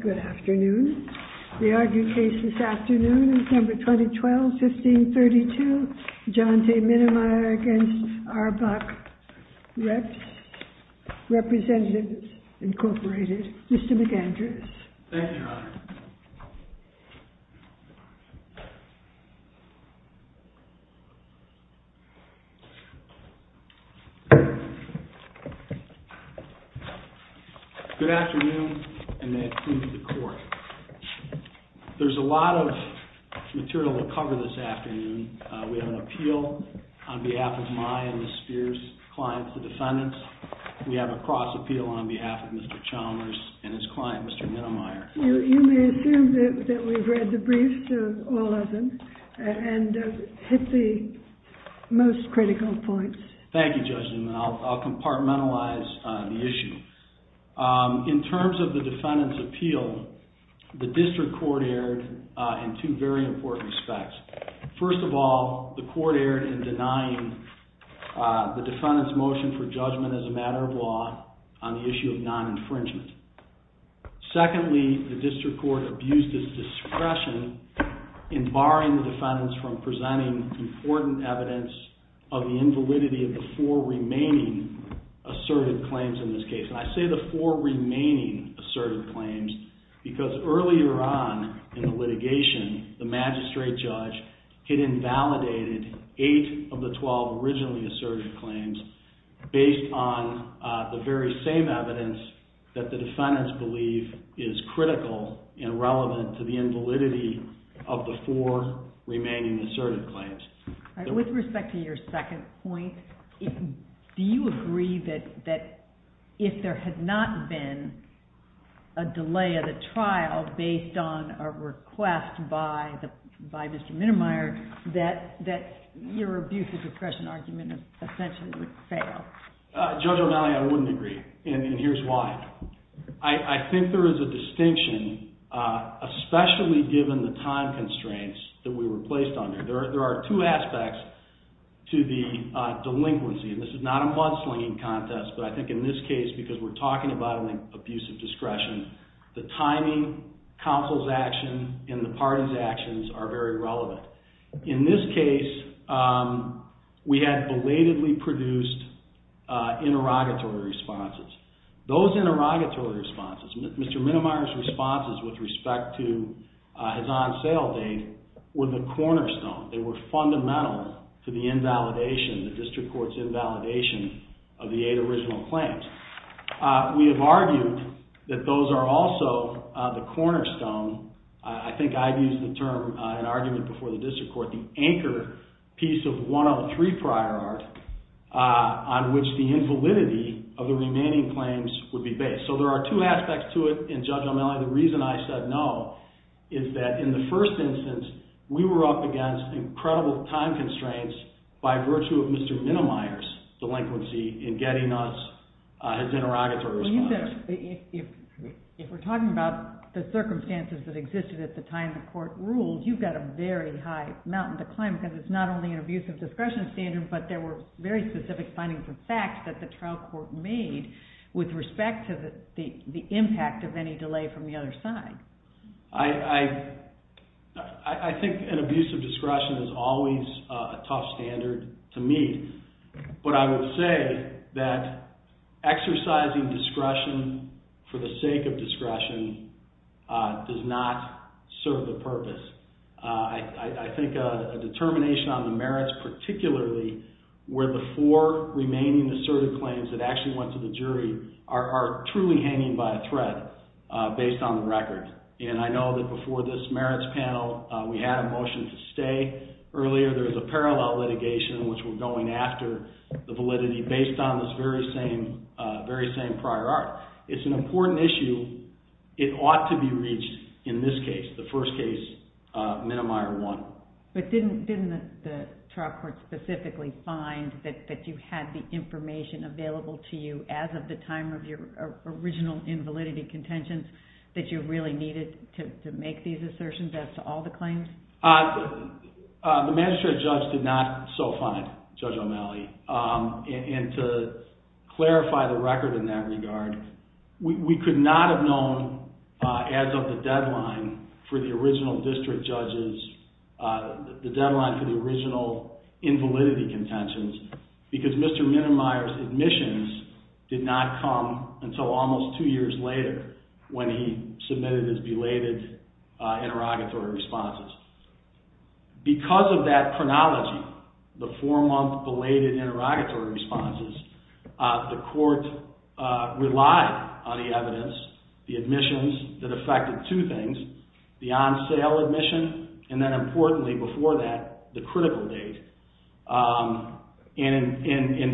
Good afternoon. The argued case this afternoon is number 2012-15-32, John T. Minemyer v. R-BOC REPS, Representatives Incorporated. Mr. McAndrews. Thank you, Your Honor. Good afternoon, and may it please the Court. There's a lot of material to cover this afternoon. We have an appeal on behalf of my and Ms. Spears' clients, the defendants. We have a cross-appeal on behalf of Mr. Chalmers and his client, Mr. Minemyer. You may assume that we've read the briefs, all of them, and hit the most critical points. Thank you, Judge Newman. I'll compartmentalize the issue. In terms of the defendant's appeal, the district court erred in two very important respects. First of all, the court erred in denying the defendant's motion for judgment as a matter of law on the issue of non-infringement. Secondly, the district court abused its discretion in barring the defendants from presenting important evidence of the invalidity of the four remaining asserted claims in this case. I say the four remaining asserted claims because earlier on in the litigation, the magistrate judge had invalidated eight of the 12 originally asserted claims based on the very same evidence that the defendants believe is critical and relevant to the invalidity of the four remaining asserted claims. With respect to your second point, do you agree that if there had not been a delay of the trial based on a request by Mr. Minemyer, that your abuse of discretion argument essentially would fail? Judge O'Malley, I wouldn't agree, and here's why. I think there is a distinction, especially given the time constraints that we were placed under. There are two aspects to the delinquency, and this is not a mudslinging contest, but I think in this case, because we're talking about an abuse of discretion, the timing, counsel's action, and the party's actions are very relevant. In this case, we had belatedly produced interrogatory responses. Those interrogatory responses, Mr. Minemyer's responses with respect to his on-sale date, were the cornerstone. They were fundamental to the invalidation, the district court's invalidation of the eight original claims. We have argued that those are also the cornerstone. I think I've used the term, an argument before the district court, the anchor piece of 103 prior art on which the invalidity of the remaining claims would be based. There are two aspects to it, and Judge O'Malley, the reason I said no is that in the first instance, we were up against incredible time constraints by virtue of Mr. Minemyer's delinquency in getting us his interrogatory responses. If we're talking about the circumstances that existed at the time the court ruled, you've got a very high mountain to climb because it's not only an abuse of discretion standard, but there were very specific findings and facts that the trial court made with respect to the impact of any delay from the other side. I think an abuse of discretion is always a tough standard to meet, but I will say that exercising discretion for the sake of discretion does not serve the purpose. I think a determination on the merits, particularly where the four remaining assertive claims that actually went to the jury are truly hanging by a thread based on the record. I know that before this merits panel, we had a motion to stay earlier. There's a parallel litigation in which we're going after the validity based on this very same prior art. It's an important issue. It ought to be reached in this case, the first case, Minemyer 1. But didn't the trial court specifically find that you had the information available to you as of the time of your original invalidity contentions that you really needed to make these assertions as to all the claims? The magistrate judge did not so find, Judge O'Malley, and to clarify the record in that regard, we could not have known as of the deadline for the original district judges, the deadline for the original invalidity contentions because Mr. Minemyer's admissions did not come until almost two years later when he submitted his belated interrogatory responses. Because of that chronology, the four-month belated interrogatory responses, the court relied on the evidence, the admissions that affected two things, the on-sale admission, and then importantly before that, the critical date, and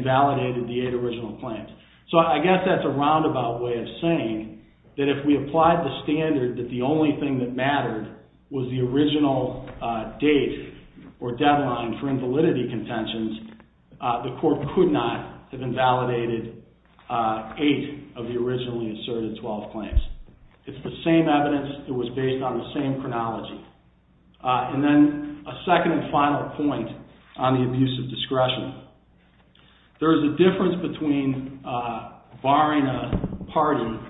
validated the eight original claims. So I guess that's a roundabout way of saying that if we applied the standard that the only thing that mattered was the original date or deadline for invalidity contentions, the court could not have invalidated eight of the originally asserted 12 claims. It's the same evidence that was based on the same chronology. And then a second and final point on the abuse of discretion. There is a difference between barring a pardon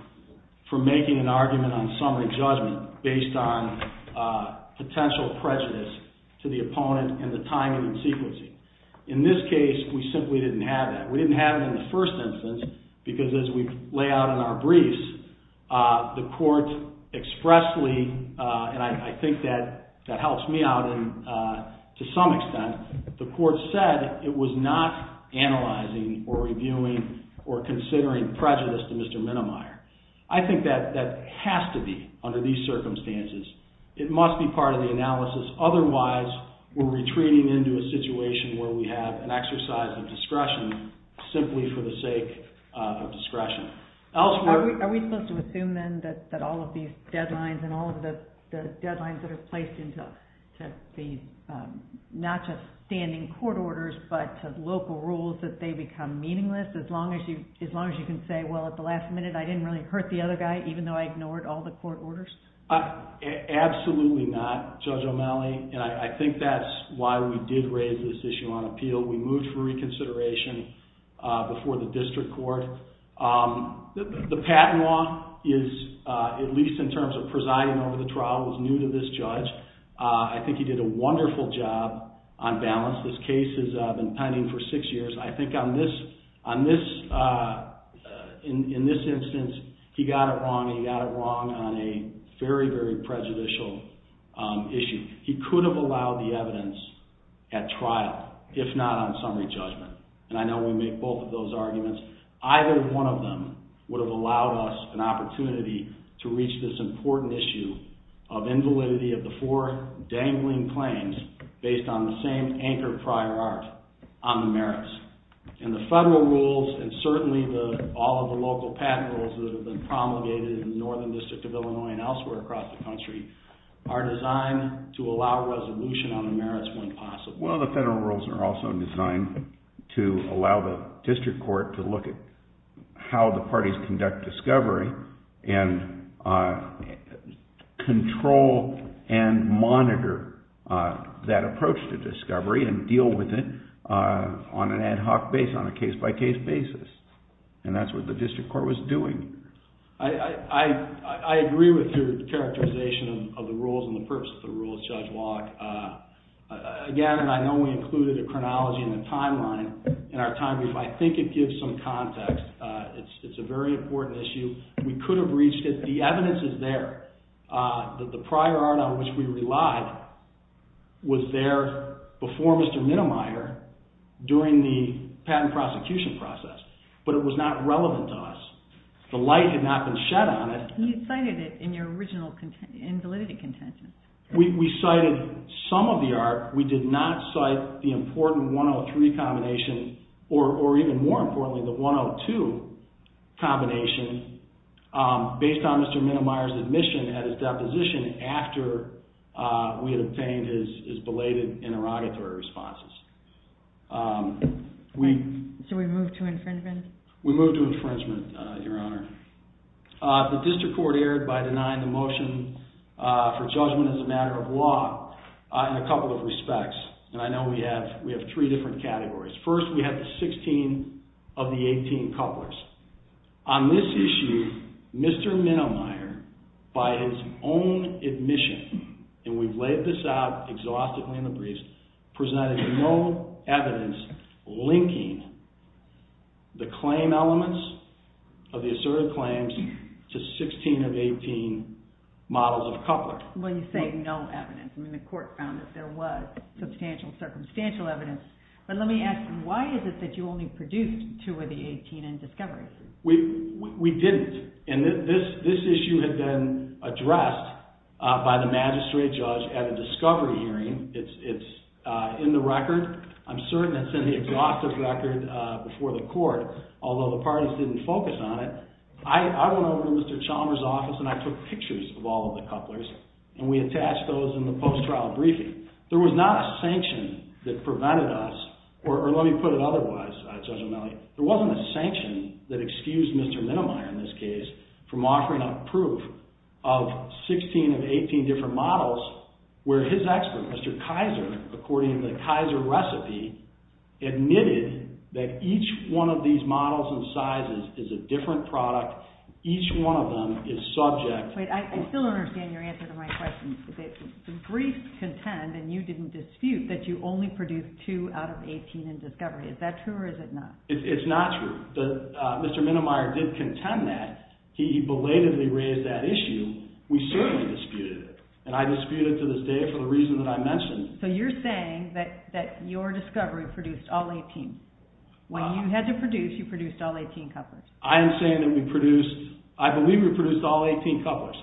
for making an argument on summary judgment based on potential prejudice to the opponent and the timing and sequencing. In this case, we simply didn't have that. We didn't have it in the first instance because as we lay out in our briefs, the court expressly, and I think that helps me out to some extent, the court said it was not analyzing or reviewing or considering prejudice to Mr. Minemyer. I think that has to be under these circumstances. It must be part of the analysis. Otherwise, we're retreating into a situation where we have an exercise of discretion simply for the sake of discretion. Elsewhere— Are we supposed to assume then that all of these deadlines and all of the deadlines that are placed into not just standing court orders but local rules, that they become meaningless as long as you can say, well, at the last minute, I didn't really hurt the other guy even though I ignored all the court orders? Absolutely not, Judge O'Malley, and I think that's why we did raise this issue on appeal. We moved for reconsideration before the district court. The patent law is, at least in terms of presiding over the trial, was new to this judge. I think he did a wonderful job on balance. This case has been pending for six years. In this instance, he got it wrong, and he got it wrong on a very, very prejudicial issue. He could have allowed the evidence at trial if not on summary judgment, and I know we make both of those arguments. Either one of them would have allowed us an opportunity to reach this important issue of invalidity of the four dangling claims based on the same anchored prior art on the merits. The federal rules and certainly all of the local patent rules that have been promulgated in the Northern District of Illinois and elsewhere across the country are designed to allow resolution on the merits when possible. Well, the federal rules are also designed to allow the district court to look at how the parties conduct discovery and control and monitor that approach to discovery and deal with it on an ad hoc base, on a case-by-case basis, and that's what the district court was doing. I agree with your characterization of the rules and the purpose of the rules, Judge Locke. Again, and I know we included a chronology in the timeline in our time brief, I think it gives some context. It's a very important issue. We could have reached it. The evidence is there. The prior art on which we relied was there before Mr. Minnemeyer during the patent prosecution process, but it was not relevant to us. The light had not been shed on it. You cited it in your original invalidity contention. We cited some of the art. We did not cite the important 103 combination, or even more importantly, the 102 combination, based on Mr. Minnemeyer's admission at his deposition after we had obtained his belated interrogatory responses. So we moved to infringement? We moved to infringement, Your Honor. The district court erred by denying the motion for judgment as a matter of law in a couple of respects, and I know we have three different categories. First, we have the 16 of the 18 couplers. On this issue, Mr. Minnemeyer, by his own admission, and we've laid this out exhaustively in the briefs, presented no evidence linking the claim elements of the asserted claims to 16 of 18 models of couplers. Well, you say no evidence. I mean, the court found that there was substantial circumstantial evidence. But let me ask you, why is it that you only produced two of the 18 in discovery? We didn't. And this issue had been addressed by the magistrate judge at a discovery hearing. It's in the record. I'm certain it's in the exhaustive record before the court, although the parties didn't focus on it. I went over to Mr. Chalmers' office, and I took pictures of all of the couplers, and we attached those in the post-trial briefing. There was not a sanction that prevented us, or let me put it otherwise, Judge O'Malley. There wasn't a sanction that excused Mr. Minnemeyer, in this case, from offering up proof of 16 of 18 different models where his expert, Mr. Kaiser, according to the Kaiser recipe, admitted that each one of these models and sizes is a different product. Each one of them is subject. I still don't understand your answer to my question. The brief contend, and you didn't dispute, that you only produced two out of 18 in discovery. Is that true or is it not? It's not true. Mr. Minnemeyer did contend that. He belatedly raised that issue. We certainly disputed it. And I dispute it to this day for the reason that I mentioned. So you're saying that your discovery produced all 18. When you had to produce, you produced all 18 couplers. I am saying that we produced, I believe we produced all 18 couplers.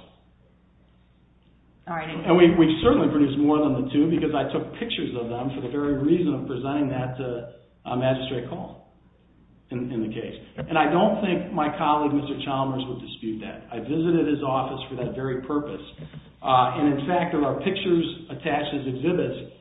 And we certainly produced more than the two because I took pictures of them for the very reason of presenting that to Magistrate Hall in the case. And I don't think my colleague, Mr. Chalmers, would dispute that. I visited his office for that very purpose. And in fact, of our pictures attached as exhibits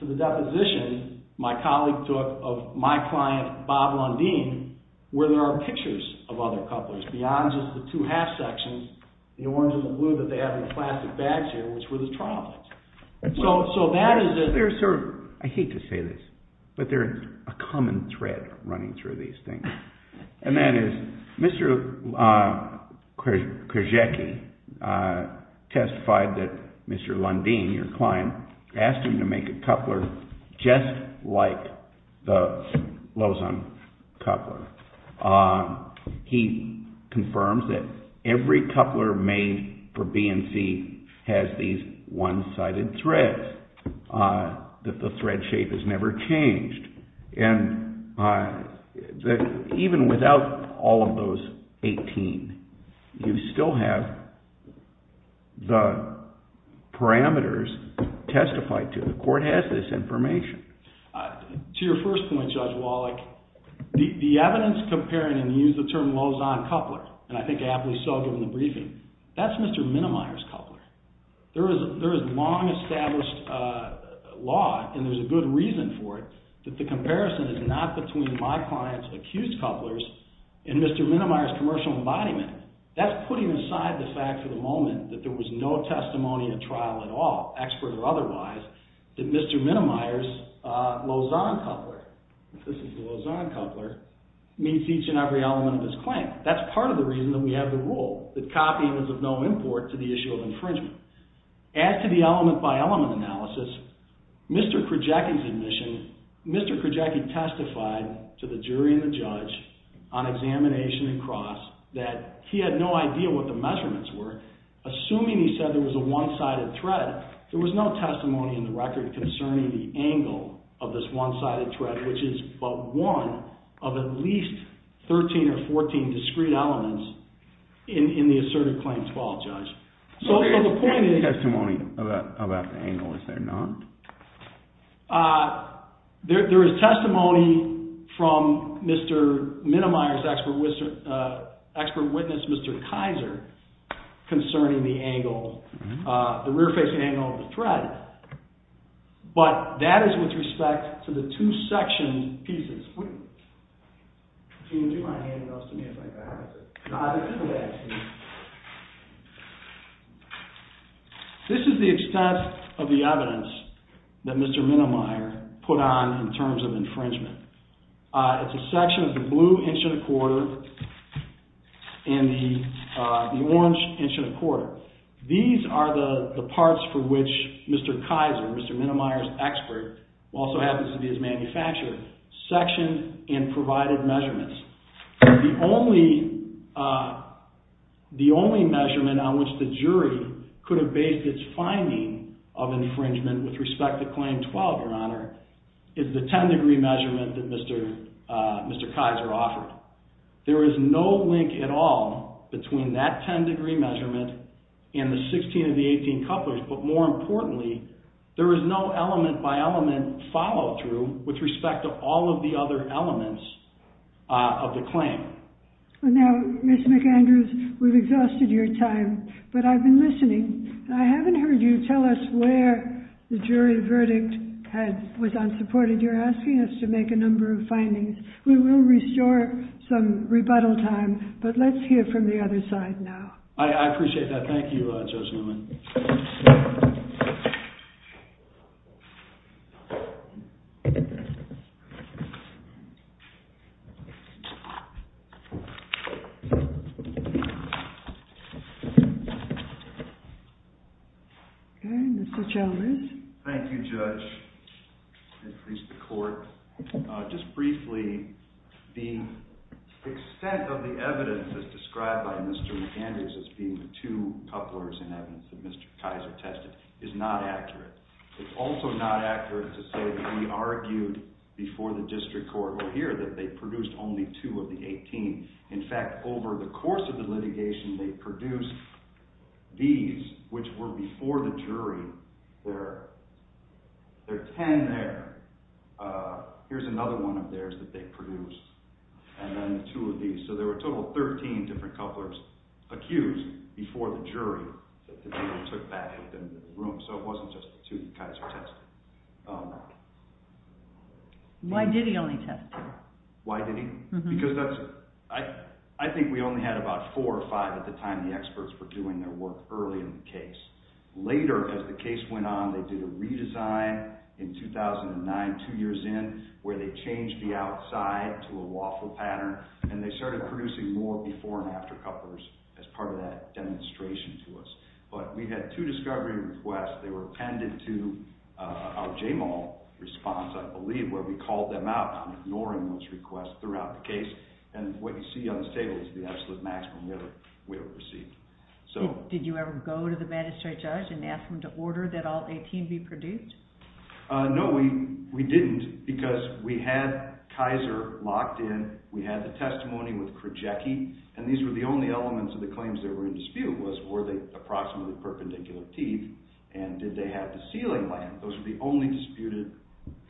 to the deposition, my colleague took of my client, Bob Lundin, where there are pictures of other couplers. Beyond just the two half sections, the orange and the blue that they have in plastic bags here, which were the triplets. I hate to say this, but there is a common thread running through these things. And that is, Mr. Krzyzewski testified that Mr. Lundin, your client, asked him to make a coupler just like the Lozon coupler. He confirms that every coupler made for BNC has these one-sided threads, that the thread shape has never changed. Even without all of those 18, you still have the parameters testified to. The court has this information. To your first point, Judge Wallach, the evidence comparing and using the term Lozon coupler, and I think aptly so given the briefing, that's Mr. Minimier's coupler. There is long-established law, and there's a good reason for it, that the comparison is not between my client's accused couplers and Mr. Minimier's commercial embodiment. That's putting aside the fact for the moment that there was no testimony at trial at all, expert or otherwise, that Mr. Minimier's Lozon coupler, if this is the Lozon coupler, meets each and every element of his claim. That's part of the reason that we have the rule that copying is of no import to the issue of infringement. As to the element-by-element analysis, Mr. Krajewski's admission, Mr. Krajewski testified to the jury and the judge on examination and cross that he had no idea what the measurements were. Assuming he said there was a one-sided thread, there was no testimony in the record concerning the angle of this one-sided thread, which is but one of at least 13 or 14 discrete elements in the assertive claim 12, Judge. So the point is… There is testimony about the angle, is there not? There is testimony from Mr. Minimier's expert witness, Mr. Kaiser, concerning the angle, the rear-facing angle of the thread, but that is with respect to the two section pieces. Would you mind handing those to me if I have it? This is the extent of the evidence that Mr. Minimier put on in terms of infringement. It's a section of the blue inch and a quarter and the orange inch and a quarter. These are the parts for which Mr. Kaiser, Mr. Minimier's expert, who also happens to be his manufacturer, sectioned and provided measurements. The only measurement on which the jury could have based its finding of infringement with respect to claim 12, Your Honor, is the 10-degree measurement that Mr. Kaiser offered. There is no link at all between that 10-degree measurement and the 16 of the 18 couplers, but more importantly, there is no element-by-element follow-through with respect to all of the other elements of the claim. Now, Mr. McAndrews, we've exhausted your time, but I've been listening. I haven't heard you tell us where the jury verdict was unsupported. You're asking us to make a number of findings. We will restore some rebuttal time, but let's hear from the other side now. I appreciate that. Thank you, Judge Newman. Okay, Mr. Chalmers. Thank you, Judge. I appreciate the court. Just briefly, the extent of the evidence that's described by Mr. McAndrews as being the two couplers in evidence that Mr. Kaiser tested is not accurate. It's also not accurate to say that he argued before the district court. We'll hear that they produced only two of the 18. In fact, over the course of the litigation, they produced these, which were before the jury. There are ten there. Here's another one of theirs that they produced. And then two of these. So there were a total of 13 different couplers accused before the jury that the jury took back into the room. So it wasn't just the two that Kaiser tested. Why did he only test two? Why did he? Because I think we only had about four or five at the time the experts were doing their work early in the case. Later, as the case went on, they did a redesign in 2009, two years in, where they changed the outside to a waffle pattern, and they started producing more before and after couplers as part of that demonstration to us. But we had two discovery requests. They were appended to our J-Mall response, I believe, where we called them out on ignoring those requests throughout the case. And what you see on this table is the absolute maximum we ever received. Did you ever go to the magistrate judge and ask him to order that all 18 be produced? No, we didn't, because we had Kaiser locked in. We had the testimony with Krajewski, and these were the only elements of the claims that were in dispute, and the point was, were they approximately perpendicular teeth, and did they have the sealing lamp? Those were the only disputed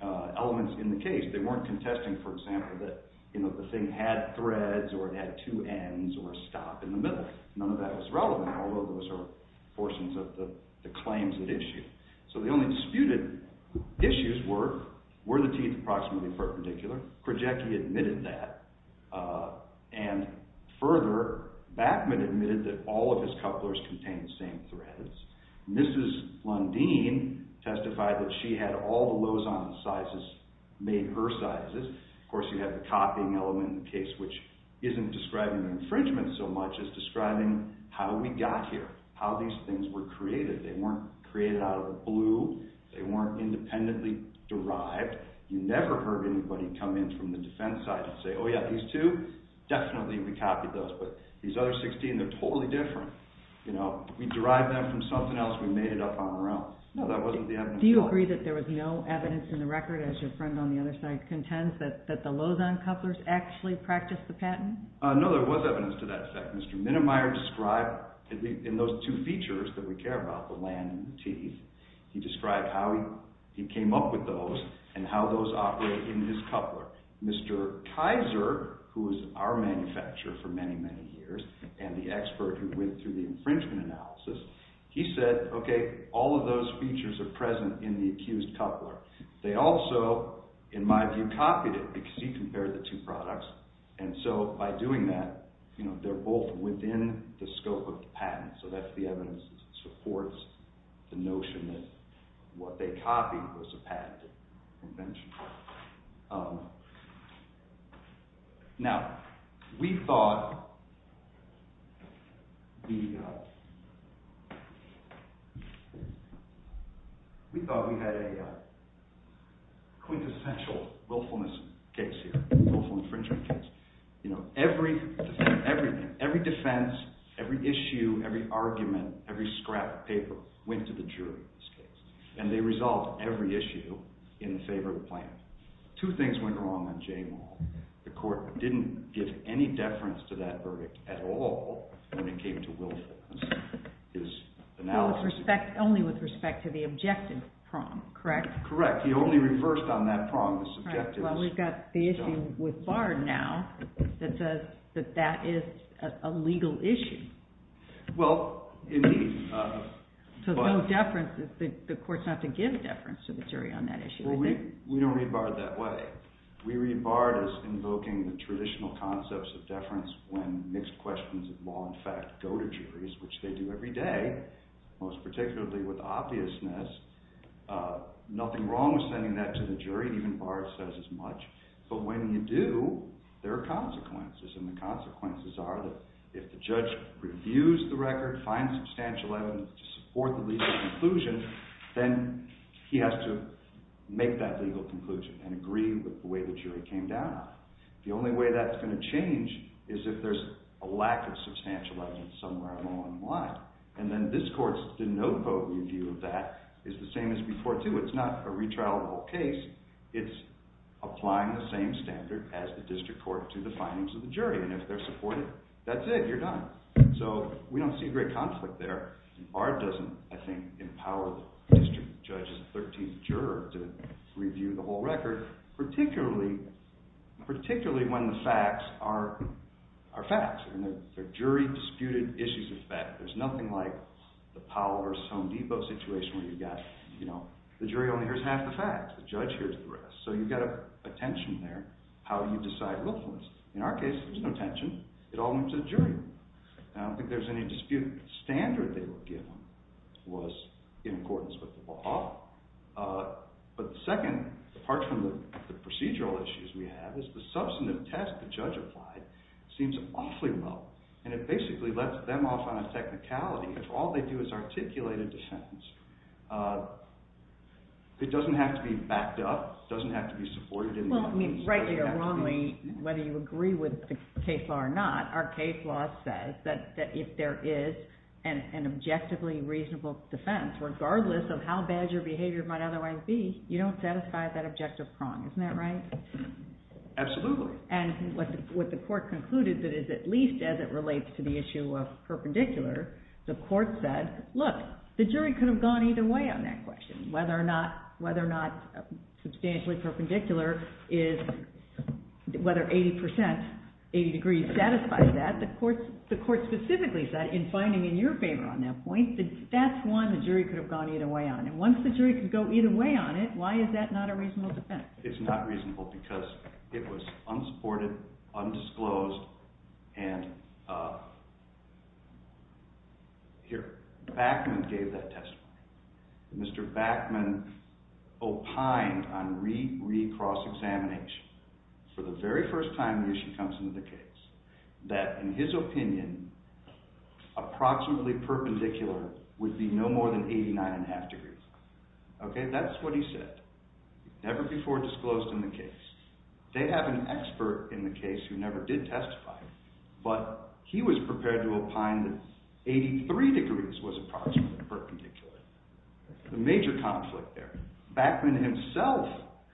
elements in the case. They weren't contesting, for example, that the thing had threads or it had two ends or a stop in the middle. None of that was relevant, although those are portions of the claims at issue. So the only disputed issues were, were the teeth approximately perpendicular? Krajewski admitted that. And further, Bachman admitted that all of his couplers contained the same threads. Mrs. Lundeen testified that she had all the Lozon sizes made her sizes. Of course, you have the copying element in the case, which isn't describing the infringement so much as describing how we got here, how these things were created. They weren't created out of the blue. They weren't independently derived. You never heard anybody come in from the defense side and say, oh, yeah, these two, definitely we copied those, but these other 16, they're totally different. We derived them from something else. We made it up on our own. No, that wasn't the evidence. Do you agree that there was no evidence in the record, as your friend on the other side contends, that the Lozon couplers actually practiced the patent? No, there was evidence to that effect. Mr. Minnemeyer described, in those two features that we care about, the lamp teeth, he described how he came up with those and how those operate in his coupler. Mr. Kaiser, who was our manufacturer for many, many years, and the expert who went through the infringement analysis, he said, okay, all of those features are present in the accused coupler. They also, in my view, copied it because he compared the two products, and so by doing that, they're both within the scope of the patent. So that's the evidence that supports the notion that what they copied was a patent convention. Now, we thought we had a quintessential willfulness case here, willful infringement case. Every defense, every issue, every argument, every scrap of paper went to the jury in this case, and they resolved every issue in favor of the plan. Two things went wrong on J Maul. The court didn't give any deference to that verdict at all when it came to willfulness. Only with respect to the objective prong, correct? Correct. He only reversed on that prong. Well, we've got the issue with Bard now that says that that is a legal issue. Well, indeed. So no deference, the court's not to give deference to the jury on that issue, is it? Well, we don't read Bard that way. We read Bard as invoking the traditional concepts of deference when mixed questions of law and fact go to juries, which they do every day, most particularly with obviousness. Nothing wrong with sending that to the jury. Even Bard says as much. But when you do, there are consequences, and the consequences are that if the judge reviews the record, finds substantial evidence to support the legal conclusion, then he has to make that legal conclusion and agree with the way the jury came down on it. The only way that's going to change is if there's a lack of substantial evidence somewhere along the line. And then this court's de novo review of that is the same as before, too. It's not a retrialable case. It's applying the same standard as the district court to the findings of the jury, and if they're supportive, that's it. You're done. So we don't see great conflict there. Bard doesn't, I think, empower the district judge's 13th juror to review the whole record, particularly when the facts are facts. They're jury-disputed issues of fact. There's nothing like the Powell v. Home Depot situation where you've got, you know, the jury only hears half the facts. The judge hears the rest. So you've got a tension there, how you decide willfulness. In our case, there's no tension. It all went to the jury. I don't think there's any dispute. The standard they were given was in accordance with the law. But the second, apart from the procedural issues we have, is the substantive test the judge applied seems awfully low, and it basically lets them off on a technicality if all they do is articulate a defense. It doesn't have to be backed up. It doesn't have to be supported. Well, I mean, rightly or wrongly, whether you agree with the case law or not, our case law says that if there is an objectively reasonable defense, regardless of how bad your behavior might otherwise be, you don't satisfy that objective prong. Isn't that right? Absolutely. And what the court concluded that is at least as it relates to the issue of perpendicular, the court said, look, the jury could have gone either way on that question, whether or not substantially perpendicular is whether 80 percent, 80 degrees satisfies that. The court specifically said, in finding in your favor on that point, that that's one the jury could have gone either way on. And once the jury could go either way on it, why is that not a reasonable defense? It's not reasonable because it was unsupported, undisclosed, and here. Backman gave that testimony. Mr. Backman opined on re-cross-examination, for the very first time the issue comes into the case, that in his opinion, approximately perpendicular would be no more than 89.5 degrees. Okay, that's what he said. Never before disclosed in the case. They have an expert in the case who never did testify, but he was prepared to opine that 83 degrees was approximately perpendicular. A major conflict there. Backman himself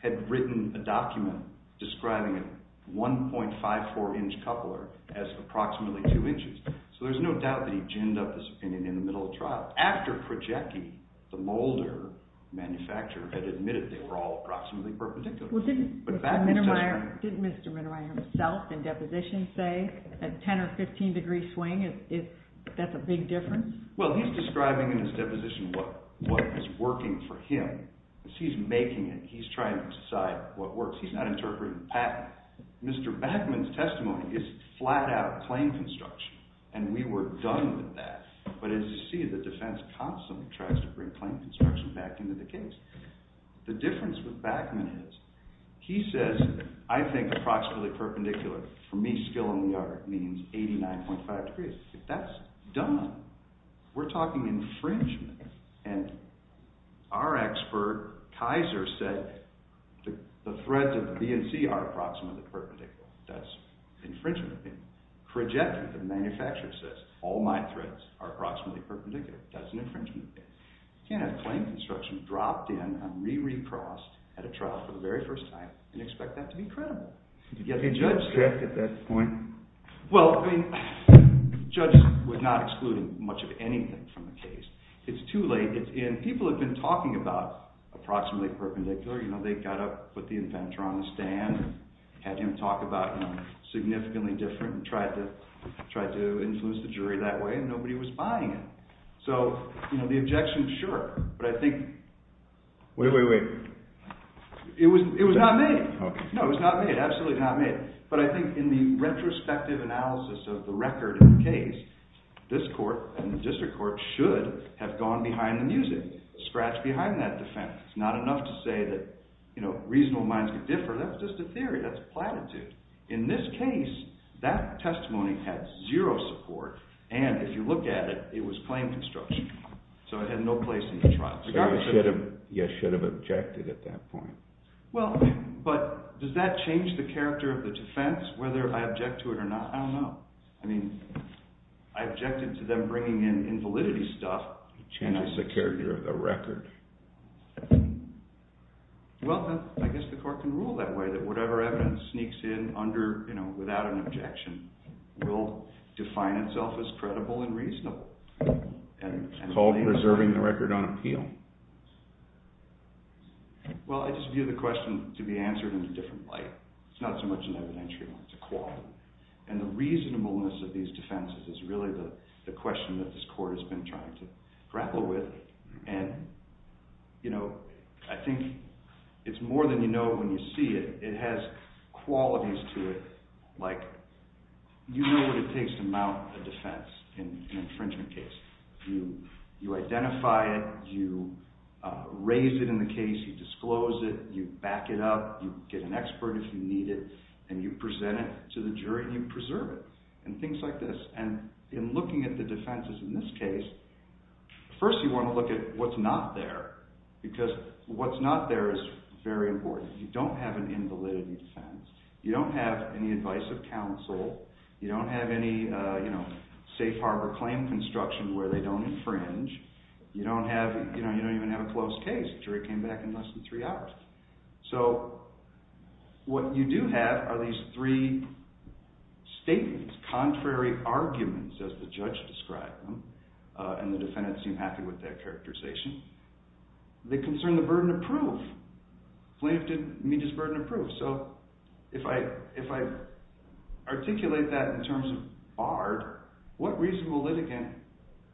had written a document describing a 1.54 inch coupler as approximately 2 inches, so there's no doubt that he ginned up this opinion in the middle of trial. After Prochecki, the molder manufacturer, had admitted they were all approximately perpendicular. Didn't Mr. Minnemeier himself in deposition say a 10 or 15 degree swing, that's a big difference? Well, he's describing in his deposition what was working for him. He's making it. He's trying to decide what works. He's not interpreting the patent. Mr. Backman's testimony is flat-out claim construction, and we were done with that. But as you see, the defense constantly tries to bring claim construction back into the case. The difference with Backman is he says, I think approximately perpendicular, for me, skill in the art, means 89.5 degrees. If that's done, we're talking infringement, and our expert, Kaiser, said the threads of the B and C are approximately perpendicular. That's infringement. Prochecki, the manufacturer, says all my threads are approximately perpendicular. That's an infringement. You can't have claim construction dropped in and re-re-crossed at a trial for the very first time and expect that to be credible. Did you get a judge's check at that point? Well, I mean, judges would not exclude much of anything from the case. It's too late. People have been talking about approximately perpendicular. They got up, put the inventor on the stand, had him talk about significantly different and tried to influence the jury that way, and nobody was buying it. So the objection, sure. But I think... Wait, wait, wait. It was not made. No, it was not made. Absolutely not made. But I think in the retrospective analysis of the record of the case, this court and the district court should have gone behind the music, scratched behind that defense. It's not enough to say that reasonable minds could differ. That's just a theory. That's platitude. In this case, that testimony had zero support, and if you look at it, it was plain construction. So it had no place in the trial. So you should have objected at that point. Well, but does that change the character of the defense, whether I object to it or not? I don't know. I mean, I objected to them bringing in invalidity stuff. It changes the character of the record. Well, I guess the court can rule that way, that whatever evidence sneaks in without an objection will define itself as credible and reasonable. It's called preserving the record on appeal. Well, I just view the question to be answered in a different light. It's not so much an evidentiary one. It's a quality. And the reasonableness of these defenses is really the question that this court has been trying to grapple with. And, you know, I think it's more than you know when you see it. It has qualities to it, like you know what it takes to mount a defense in an infringement case. You identify it. You raise it in the case. You disclose it. You back it up. You get an expert if you need it. And you present it to the jury and you preserve it and things like this. And in looking at the defenses in this case, first you want to look at what's not there because what's not there is very important. You don't have an invalidity defense. You don't have any advice of counsel. You don't have any, you know, safe harbor claim construction where they don't infringe. You don't even have a closed case. The jury came back in less than three hours. So what you do have are these three statements, contrary arguments as the judge described them, and the defendants seem happy with that characterization. They concern the burden of proof. Flint didn't meet his burden of proof. So if I articulate that in terms of BARD, what reasonable litigant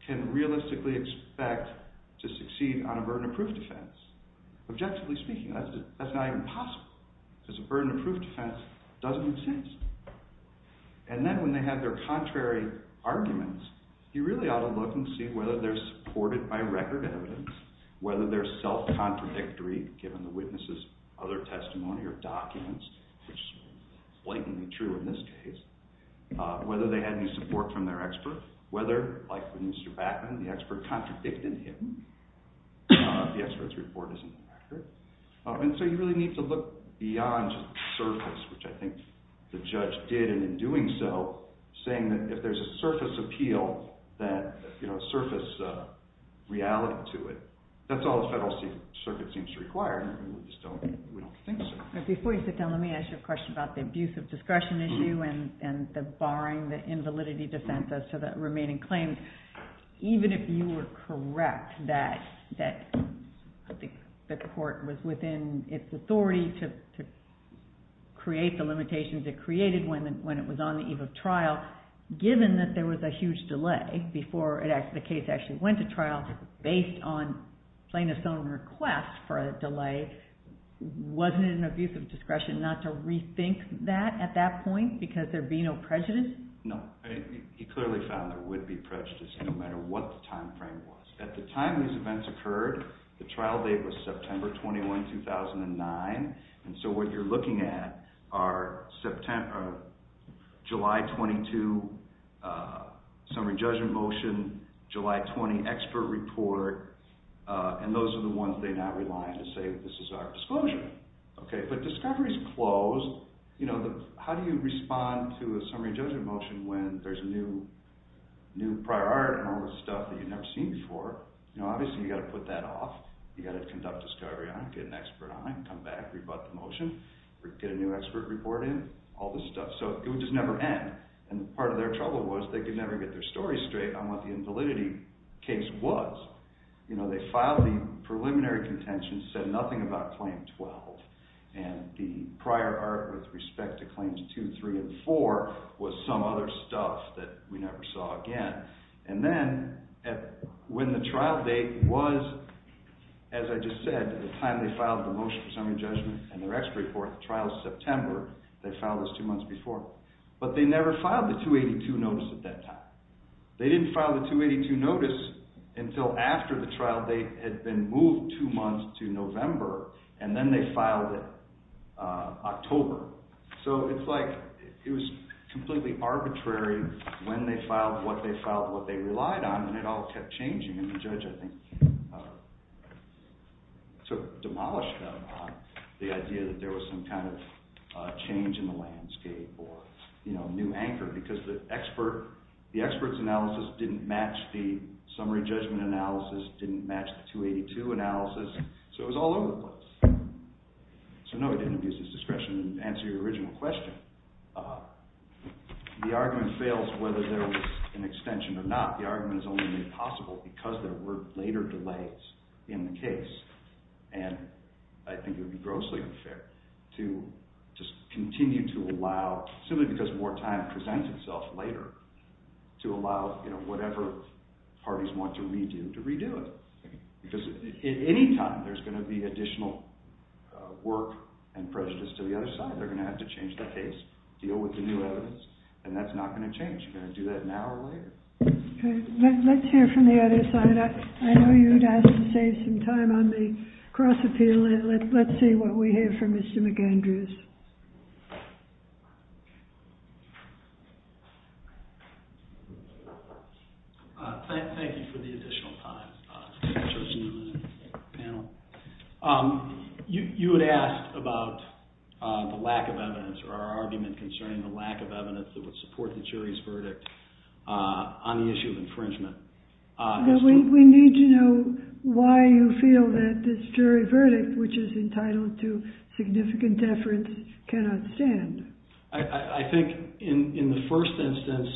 can realistically expect to succeed on a burden of proof defense? Objectively speaking, that's not even possible because a burden of proof defense doesn't exist. And then when they have their contrary arguments, you really ought to look and see whether they're supported by record evidence, whether they're self-contradictory given the witness's other testimony or documents, which is blatantly true in this case, whether they had any support from their expert, whether, like with Mr. Backman, the expert contradicted him. The expert's report isn't accurate. And so you really need to look beyond surface, which I think the judge did, and in doing so, saying that if there's a surface appeal, that, you know, surface reality to it, that that's all the federal circuit seems to require, and we just don't think so. Before you sit down, let me ask you a question about the abuse of discretion issue and the barring the invalidity defense as to that remaining claim. Even if you were correct that the court was within its authority to create the limitations it created when it was on the eve of trial, given that there was a huge delay before the case actually went to trial based on plaintiff's own request for a delay, wasn't it an abuse of discretion not to rethink that at that point because there'd be no prejudice? No, he clearly found there would be prejudice no matter what the time frame was. At the time these events occurred, the trial date was September 21, 2009, and so what you're looking at are July 22, summary judgment motion, July 20 expert report, and those are the ones they now rely on to say this is our disclosure. Okay, but discovery's closed. You know, how do you respond to a summary judgment motion when there's a new priority and all this stuff that you've never seen before? You know, obviously you've got to put that off. You've got to conduct discovery on it, get an expert on it, come back, rebut the motion, get a new expert report in, all this stuff. So it would just never end, and part of their trouble was they could never get their story straight on what the invalidity case was. You know, they filed the preliminary contention, said nothing about Claim 12, and the prior art with respect to Claims 2, 3, and 4 was some other stuff that we never saw again, and then when the trial date was, as I just said, the time they filed the motion for summary judgment and their expert report, trial's September, they filed this two months before, but they never filed the 282 notice at that time. They didn't file the 282 notice until after the trial date had been moved two months to November, and then they filed it October. So it's like it was completely arbitrary when they filed what they filed what they relied on, and it all kept changing, and the judge, I think, demolished them on the idea that there was some kind of change in the landscape or new anchor, because the expert's analysis didn't match the summary judgment analysis, didn't match the 282 analysis, so it was all over the place. So no, he didn't abuse his discretion to answer your original question. The argument fails whether there was an extension or not. The argument is only made possible because there were later delays in the case, and I think it would be grossly unfair to just continue to allow, simply because more time presents itself later, to allow whatever parties want to redo to redo it, because at any time, there's going to be additional work and prejudice to the other side. They're going to have to change the case, deal with the new evidence, and that's not going to change. You're going to do that now or later. Okay, let's hear from the other side. I know you'd ask to save some time on the cross-appeal, so let's see what we have for Mr. McAndrews. Thank you for the additional time, Judge Newman and the panel. You had asked about the lack of evidence or our argument concerning the lack of evidence that would support the jury's verdict on the issue of infringement. We need to know why you feel that this jury verdict, which is entitled to significant deference, cannot stand. I think in the first instance,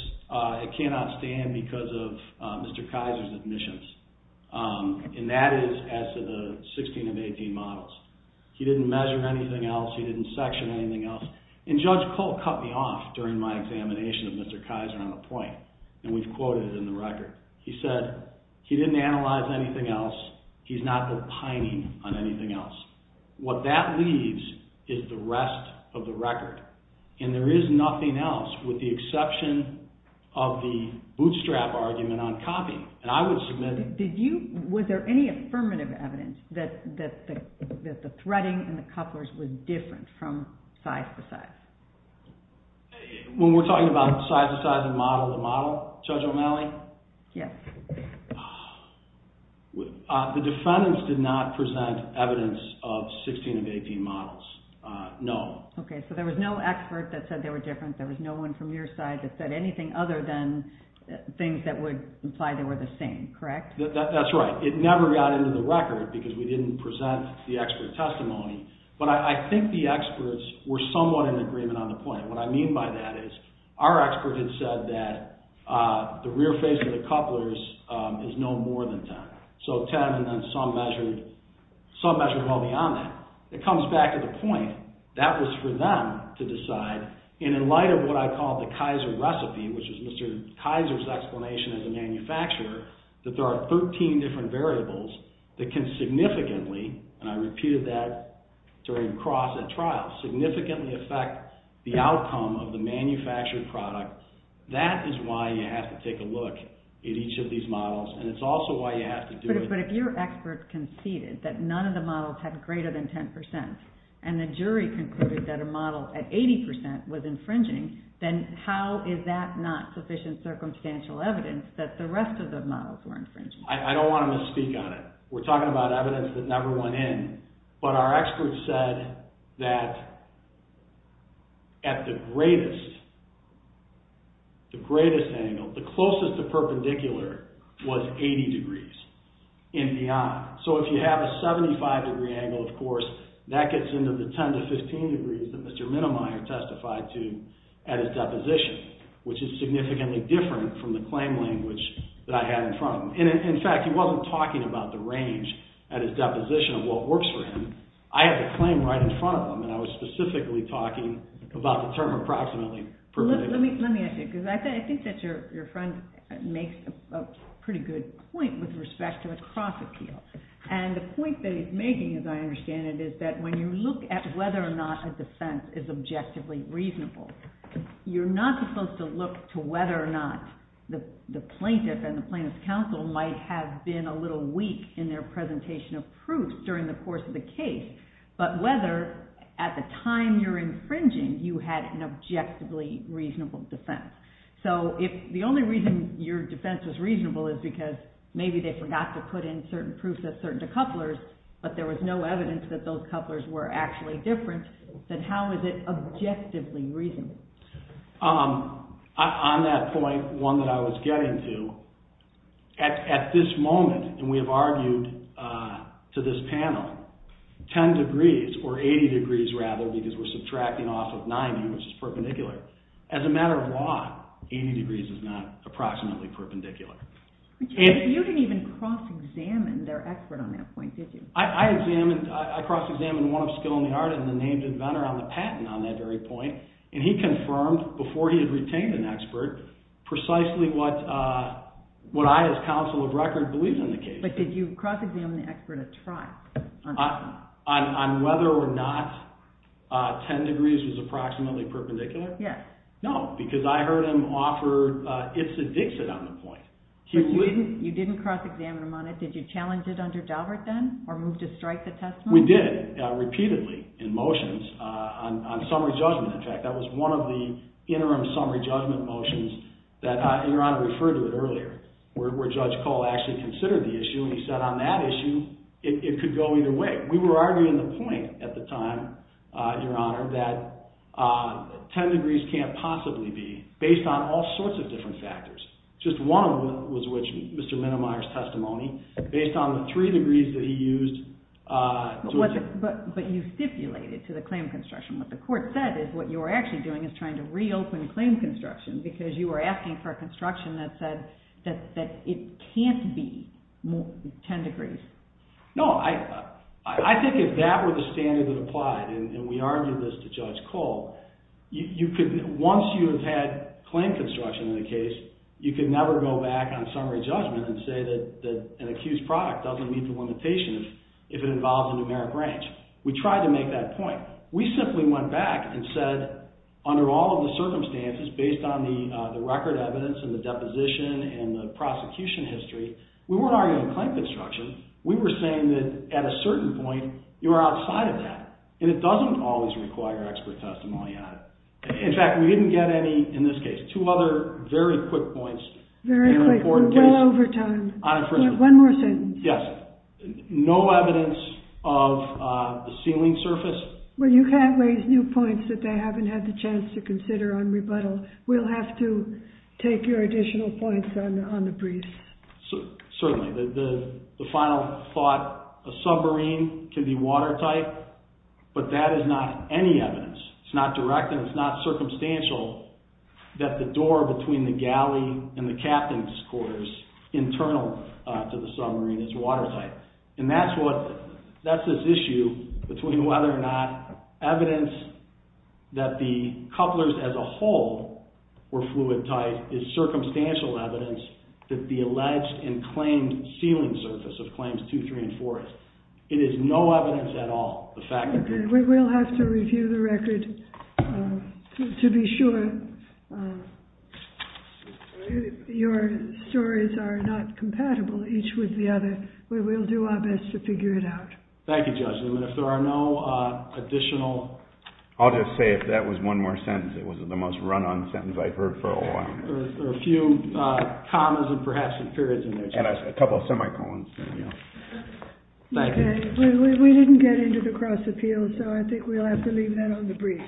it cannot stand because of Mr. Kaiser's admissions, and that is as to the 16 of 18 models. He didn't measure anything else. He didn't section anything else. And Judge Cole cut me off during my examination of Mr. Kaiser on the point, and we've quoted it in the record. He said he didn't analyze anything else. He's not opining on anything else. What that leaves is the rest of the record, and there is nothing else with the exception of the bootstrap argument on copying. And I would submit that... Did you... Was there any affirmative evidence that the threading in the couplers was different from size to size? When we're talking about size to size and model to model, Judge O'Malley? Yes. The defendants did not present evidence of 16 of 18 models. No. Okay, so there was no expert that said they were different. There was no one from your side that said anything other than things that would imply they were the same, correct? That's right. It never got into the record because we didn't present the expert testimony, but I think the experts were somewhat in agreement on the point. What I mean by that is our expert had said that the rear face of the couplers is no more than 10, so 10 and then some measured well beyond that. It comes back to the point, that was for them to decide, and in light of what I call the Kaiser recipe, which is Mr. Kaiser's explanation as a manufacturer, that there are 13 different variables that can significantly, and I repeated that during cross at trial, significantly affect the outcome of the manufactured product. That is why you have to take a look at each of these models, and it's also why you have to do it. But if your expert conceded that none of the models had greater than 10%, and the jury concluded that a model at 80% was infringing, then how is that not sufficient circumstantial evidence that the rest of the models were infringing? I don't want to misspeak on it. We're talking about evidence that never went in, but our expert said that at the greatest angle, the closest to perpendicular, was 80 degrees and beyond. So if you have a 75 degree angle, of course, that gets into the 10 to 15 degrees that Mr. Minnemeyer testified to at his deposition, which is significantly different from the claim language that I had in front of him. In fact, he wasn't talking about the range at his deposition of what works for him. I have a claim right in front of him, and I was specifically talking about the term approximately perpendicular. Let me ask you, because I think that your friend makes a pretty good point with respect to a cross-appeal. And the point that he's making, as I understand it, is that when you look at whether or not a defense is objectively reasonable, you're not supposed to look to whether or not the plaintiff and the plaintiff's counsel might have been a little weak in their presentation of proofs during the course of the case, but whether at the time you're infringing you had an objectively reasonable defense. So if the only reason your defense was reasonable is because maybe they forgot to put in certain proofs of certain decouplers, but there was no evidence that those couplers were actually different, then how is it objectively reasonable? On that point, one that I was getting to, at this moment, and we have argued to this panel, 10 degrees, or 80 degrees rather, because we're subtracting off of 90, which is perpendicular. As a matter of law, 80 degrees is not approximately perpendicular. You didn't even cross-examine their expert on that point, did you? I cross-examined one of Skilnyard and the named inventor on the patent on that very point, and he confirmed, before he had retained an expert, precisely what I, as counsel of record, believe in the case. But did you cross-examine the expert a try? On whether or not 10 degrees was approximately perpendicular? Yes. No, because I heard him offer it's a Dixit on the point. But you didn't cross-examine him on it, did you challenge it under Daubert then, or move to strike the testimony? We did, repeatedly, in motions, on summary judgment, in fact, that was one of the interim summary judgment motions that your Honor referred to it earlier, where Judge Cole actually considered the issue, and he said on that issue, it could go either way. We were arguing the point at the time, your Honor, that 10 degrees can't possibly be, based on all sorts of different factors. Just one of them was which, Mr. Minnemeyer's testimony, based on the three degrees that he used. But you stipulated to the claim construction, what the court said, is what you were actually doing is trying to reopen claim construction, because you were asking for a construction that said that it can't be 10 degrees. No, I think if that were the standard that applied, and we argued this to Judge Cole, once you have had claim construction in a case, you could never go back on summary judgment and say that an accused product doesn't meet the limitation if it involves a numeric range. We tried to make that point. We simply went back and said, under all of the circumstances, based on the record evidence, and the deposition, and the prosecution history, we weren't arguing claim construction. We were saying that at a certain point, you are outside of that, and it doesn't always require expert testimony on it. In fact, we didn't get any in this case. Two other very quick points. Very quick. We're well over time. On infringement. One more sentence. Yes. No evidence of the sealing surface. Well, you can't raise new points that they haven't had the chance to consider on rebuttal. We'll have to take your additional points on the brief. Certainly. The final thought, a submarine can be watertight, but that is not any evidence. It's not direct, and it's not circumstantial that the door between the galley and the captain's quarters, internal to the submarine, is watertight. And that's this issue between whether or not evidence that the couplers as a whole were fluid tight is circumstantial evidence that the alleged and claimed sealing surface of Claims 2, 3, and 4 is. It is no evidence at all. We'll have to review the record to be sure. Your stories are not compatible, each with the other. We will do our best to figure it out. Thank you, Judge Newman. And if there are no additional... I'll just say if that was one more sentence, it was the most run-on sentence I've heard for a while. There are a few commas and perhaps some periods in there. And a couple of semicolons. Thank you. We didn't get into the cross-appeals, so I think we'll have to leave that on the brief. Very well. All rise.